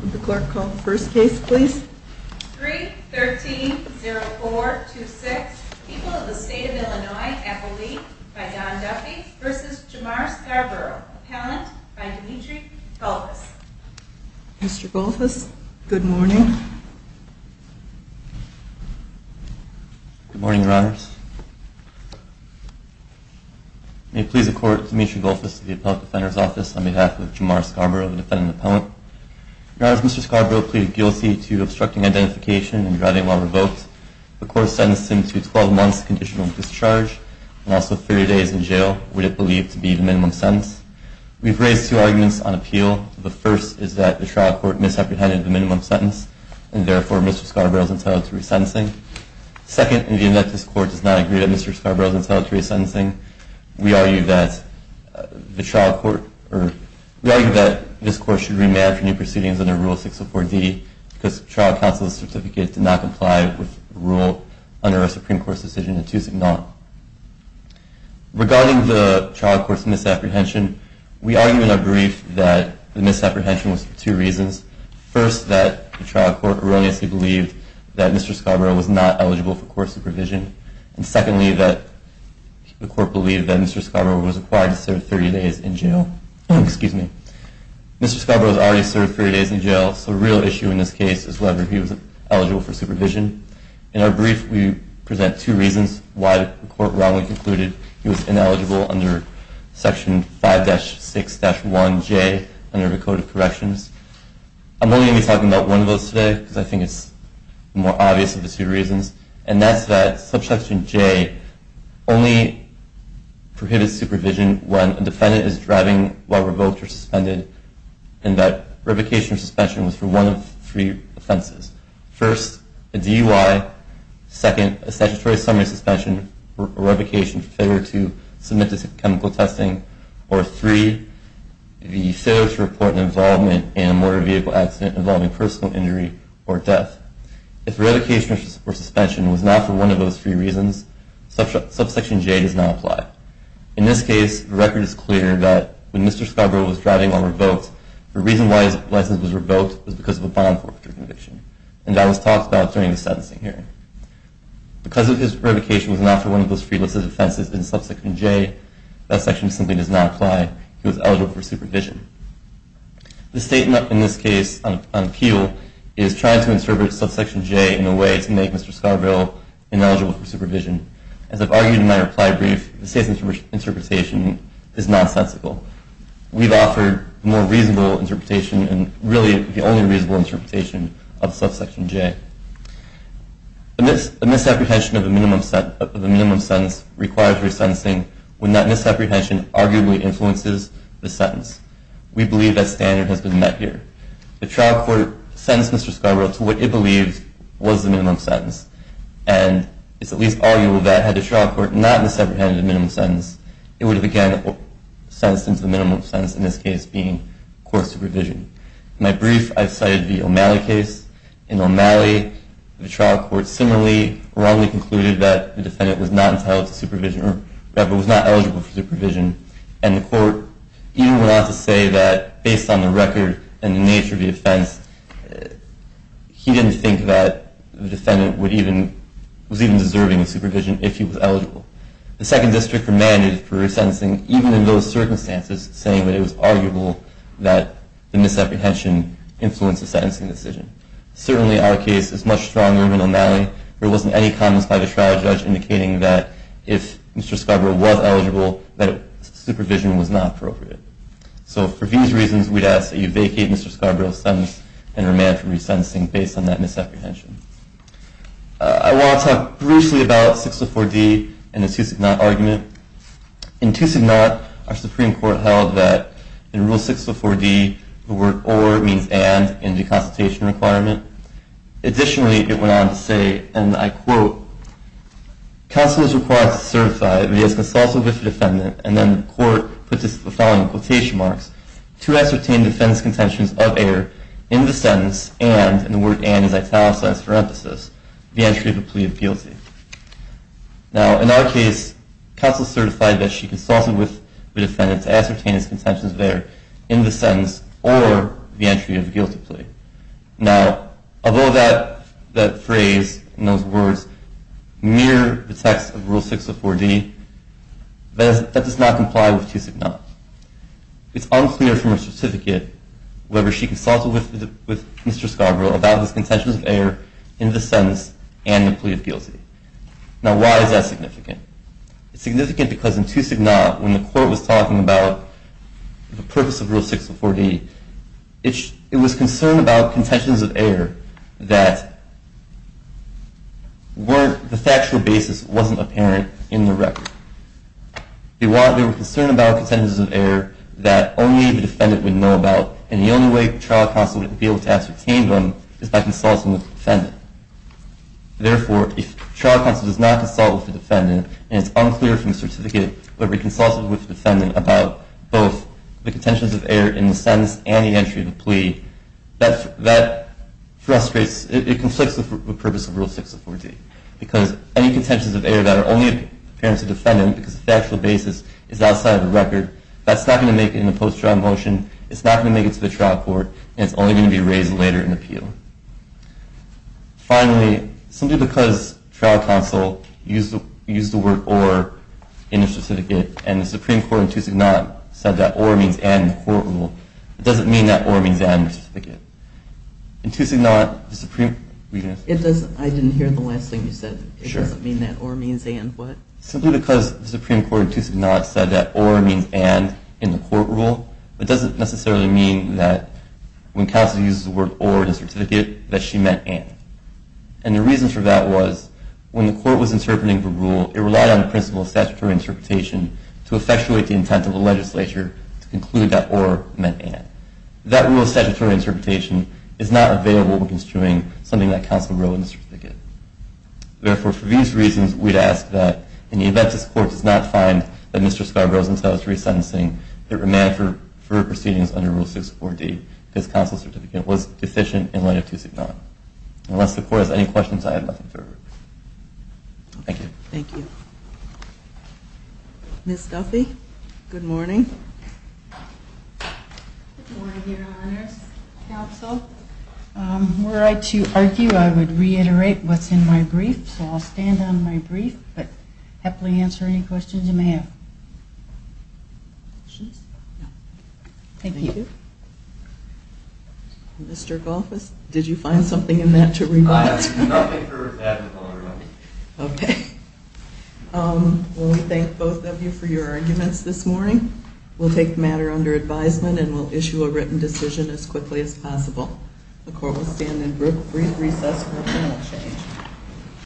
Would the clerk call the first case please? 3-13-04-26, People of the State of Illinois, Appellee, by Don Duffy v. Jamar Scarborough, Appellant, by Dimitri Golfus. Mr. Golfus, good morning. Good morning, Your Honors. May it please the Court, Dimitri Golfus of the Appellate Defender's Office, on behalf of Jamar Scarborough, the Defendant Appellant. Your Honors, Mr. Scarborough pleaded guilty to obstructing identification and driving while revoked. The Court sentenced him to 12 months of conditional discharge and also 30 days in jail, which is believed to be the minimum sentence. We've raised two arguments on appeal. The first is that the trial court misapprehended the minimum sentence, and therefore Mr. Scarborough is entitled to resentencing. Second, in view that this Court does not agree that Mr. Scarborough is entitled to resentencing, we argue that this Court should remand for new proceedings under Rule 604D, because the trial counsel's certificate did not comply with the rule under our Supreme Court's decision in 2009. Regarding the trial court's misapprehension, we argue in our brief that the misapprehension was for two reasons. First, that the trial court erroneously believed that Mr. Scarborough was not eligible for court supervision. And secondly, that the Court believed that Mr. Scarborough was required to serve 30 days in jail. Mr. Scarborough has already served 30 days in jail, so the real issue in this case is whether he was eligible for supervision. In our brief, we present two reasons why the Court wrongly concluded he was ineligible under Section 5-6-1J under the Code of Corrections. I'm only going to be talking about one of those today, because I think it's more obvious of the two reasons, and that's that Section 5-6-1J only prohibits supervision when a defendant is driving while revoked or suspended, and that revocation or suspension was for one of three offenses. First, a DUI. Second, a statutory summary suspension or revocation for failure to submit to chemical testing. Or three, the failure to report an involvement in a motor vehicle accident involving personal injury or death. If revocation or suspension was not for one of those three reasons, Subsection J does not apply. In this case, the record is clear that when Mr. Scarborough was driving while revoked, the reason why his license was revoked was because of a bond forfeiture conviction, and that was talked about during the sentencing hearing. Because his revocation was not for one of those three listed offenses in Subsection J, that section simply does not apply. He was eligible for supervision. The statement in this case on appeal is trying to interpret Subsection J in a way to make Mr. Scarborough ineligible for supervision. As I've argued in my reply brief, the state's interpretation is nonsensical. We've offered a more reasonable interpretation and really the only reasonable interpretation of Subsection J. A misapprehension of a minimum sentence requires resentencing when that misapprehension arguably influences the sentence. We believe that standard has been met here. The trial court sentenced Mr. Scarborough to what it believed was the minimum sentence, and it's at least arguable that had the trial court not misapprehended the minimum sentence, it would have again sentenced him to the minimum sentence, in this case being court supervision. In my brief, I've cited the O'Malley case. In O'Malley, the trial court similarly wrongly concluded that the defendant was not entitled to supervision or was not eligible for supervision, and the court even went on to say that, based on the record and the nature of the offense, he didn't think that the defendant was even deserving of supervision if he was eligible. The Second District remanded for resentencing even in those circumstances, saying that it was arguable that the misapprehension influenced the sentencing decision. Certainly, our case is much stronger in O'Malley. There wasn't any comments by the trial judge indicating that if Mr. Scarborough was eligible, that supervision was not appropriate. So for these reasons, we'd ask that you vacate Mr. Scarborough's sentence and remand for resentencing based on that misapprehension. I want to talk briefly about 604D and the to-signot argument. In to-signot, our Supreme Court held that in Rule 604D, the word or means and in the consultation requirement. Additionally, it went on to say, and I quote, counsel is required to certify that he has consulted with the defendant, and then the court put the following quotation marks, to ascertain the defendant's contentions of error in the sentence and, and the word and is italicized in parenthesis, the entry of a plea of guilty. Now, in our case, counsel certified that she consulted with the defendant to ascertain his contentions of error in the sentence or the entry of a guilty plea. Now, although that phrase, in those words, mirror the text of Rule 604D, that does not comply with to-signot. It's unclear from her certificate whether she consulted with Mr. Scarborough about his contentions of error in the sentence and the plea of guilty. Now, why is that significant? It's significant because in to-signot, when the court was talking about the purpose of Rule 604D, it was concerned about contentions of error that weren't, the factual basis wasn't apparent in the record. They were concerned about contentions of error that only the defendant would know about, and the only way trial counsel would be able to ascertain them is by consulting with the defendant. Therefore, if trial counsel does not consult with the defendant, and it's unclear from the certificate whether she consulted with the defendant about both the contentions of error in the sentence and the entry of the plea, that frustrates, it conflicts with the purpose of Rule 604D, because any contentions of error that are only apparent to the defendant because the factual basis is outside of the record, that's not going to make it in the post-trial motion, it's not going to make it to the trial court, and it's only going to be raised later in appeal. Finally, simply because trial counsel used the word or in the certificate, and the Supreme Court in to-signot said that or means and in the court rule, it doesn't mean that or means and in the certificate. In to-signot, the Supreme Court... I didn't hear the last thing you said. It doesn't mean that or means and what? Simply because the Supreme Court in to-signot said that or means and in the court rule, it doesn't necessarily mean that when counsel uses the word or in the certificate, that she meant and. And the reason for that was when the court was interpreting the rule, it relied on the principle of statutory interpretation to effectuate the intent of the legislature to conclude that or meant and. That rule of statutory interpretation is not available when construing something that counsel wrote in the certificate. Therefore, for these reasons, we'd ask that in the event this court does not find that Mr. Scott Rosenthal is resentencing the remand for proceedings under Rule 64D, this counsel certificate was deficient in line of to-signot. Unless the court has any questions, I have nothing further. Thank you. Thank you. Ms. Duffy, good morning. Good morning, Your Honors. Counsel, were I to argue, I would reiterate what's in my brief, so I'll stand on my brief but happily answer any questions you may have. Questions? No. Thank you. Mr. Golfus, did you find something in that to revise? Nothing for that, Your Honor. Okay. Well, we thank both of you for your arguments this morning. We'll take the matter under advisement and we'll issue a written decision as quickly as possible. The court will stand in brief recess for a final change.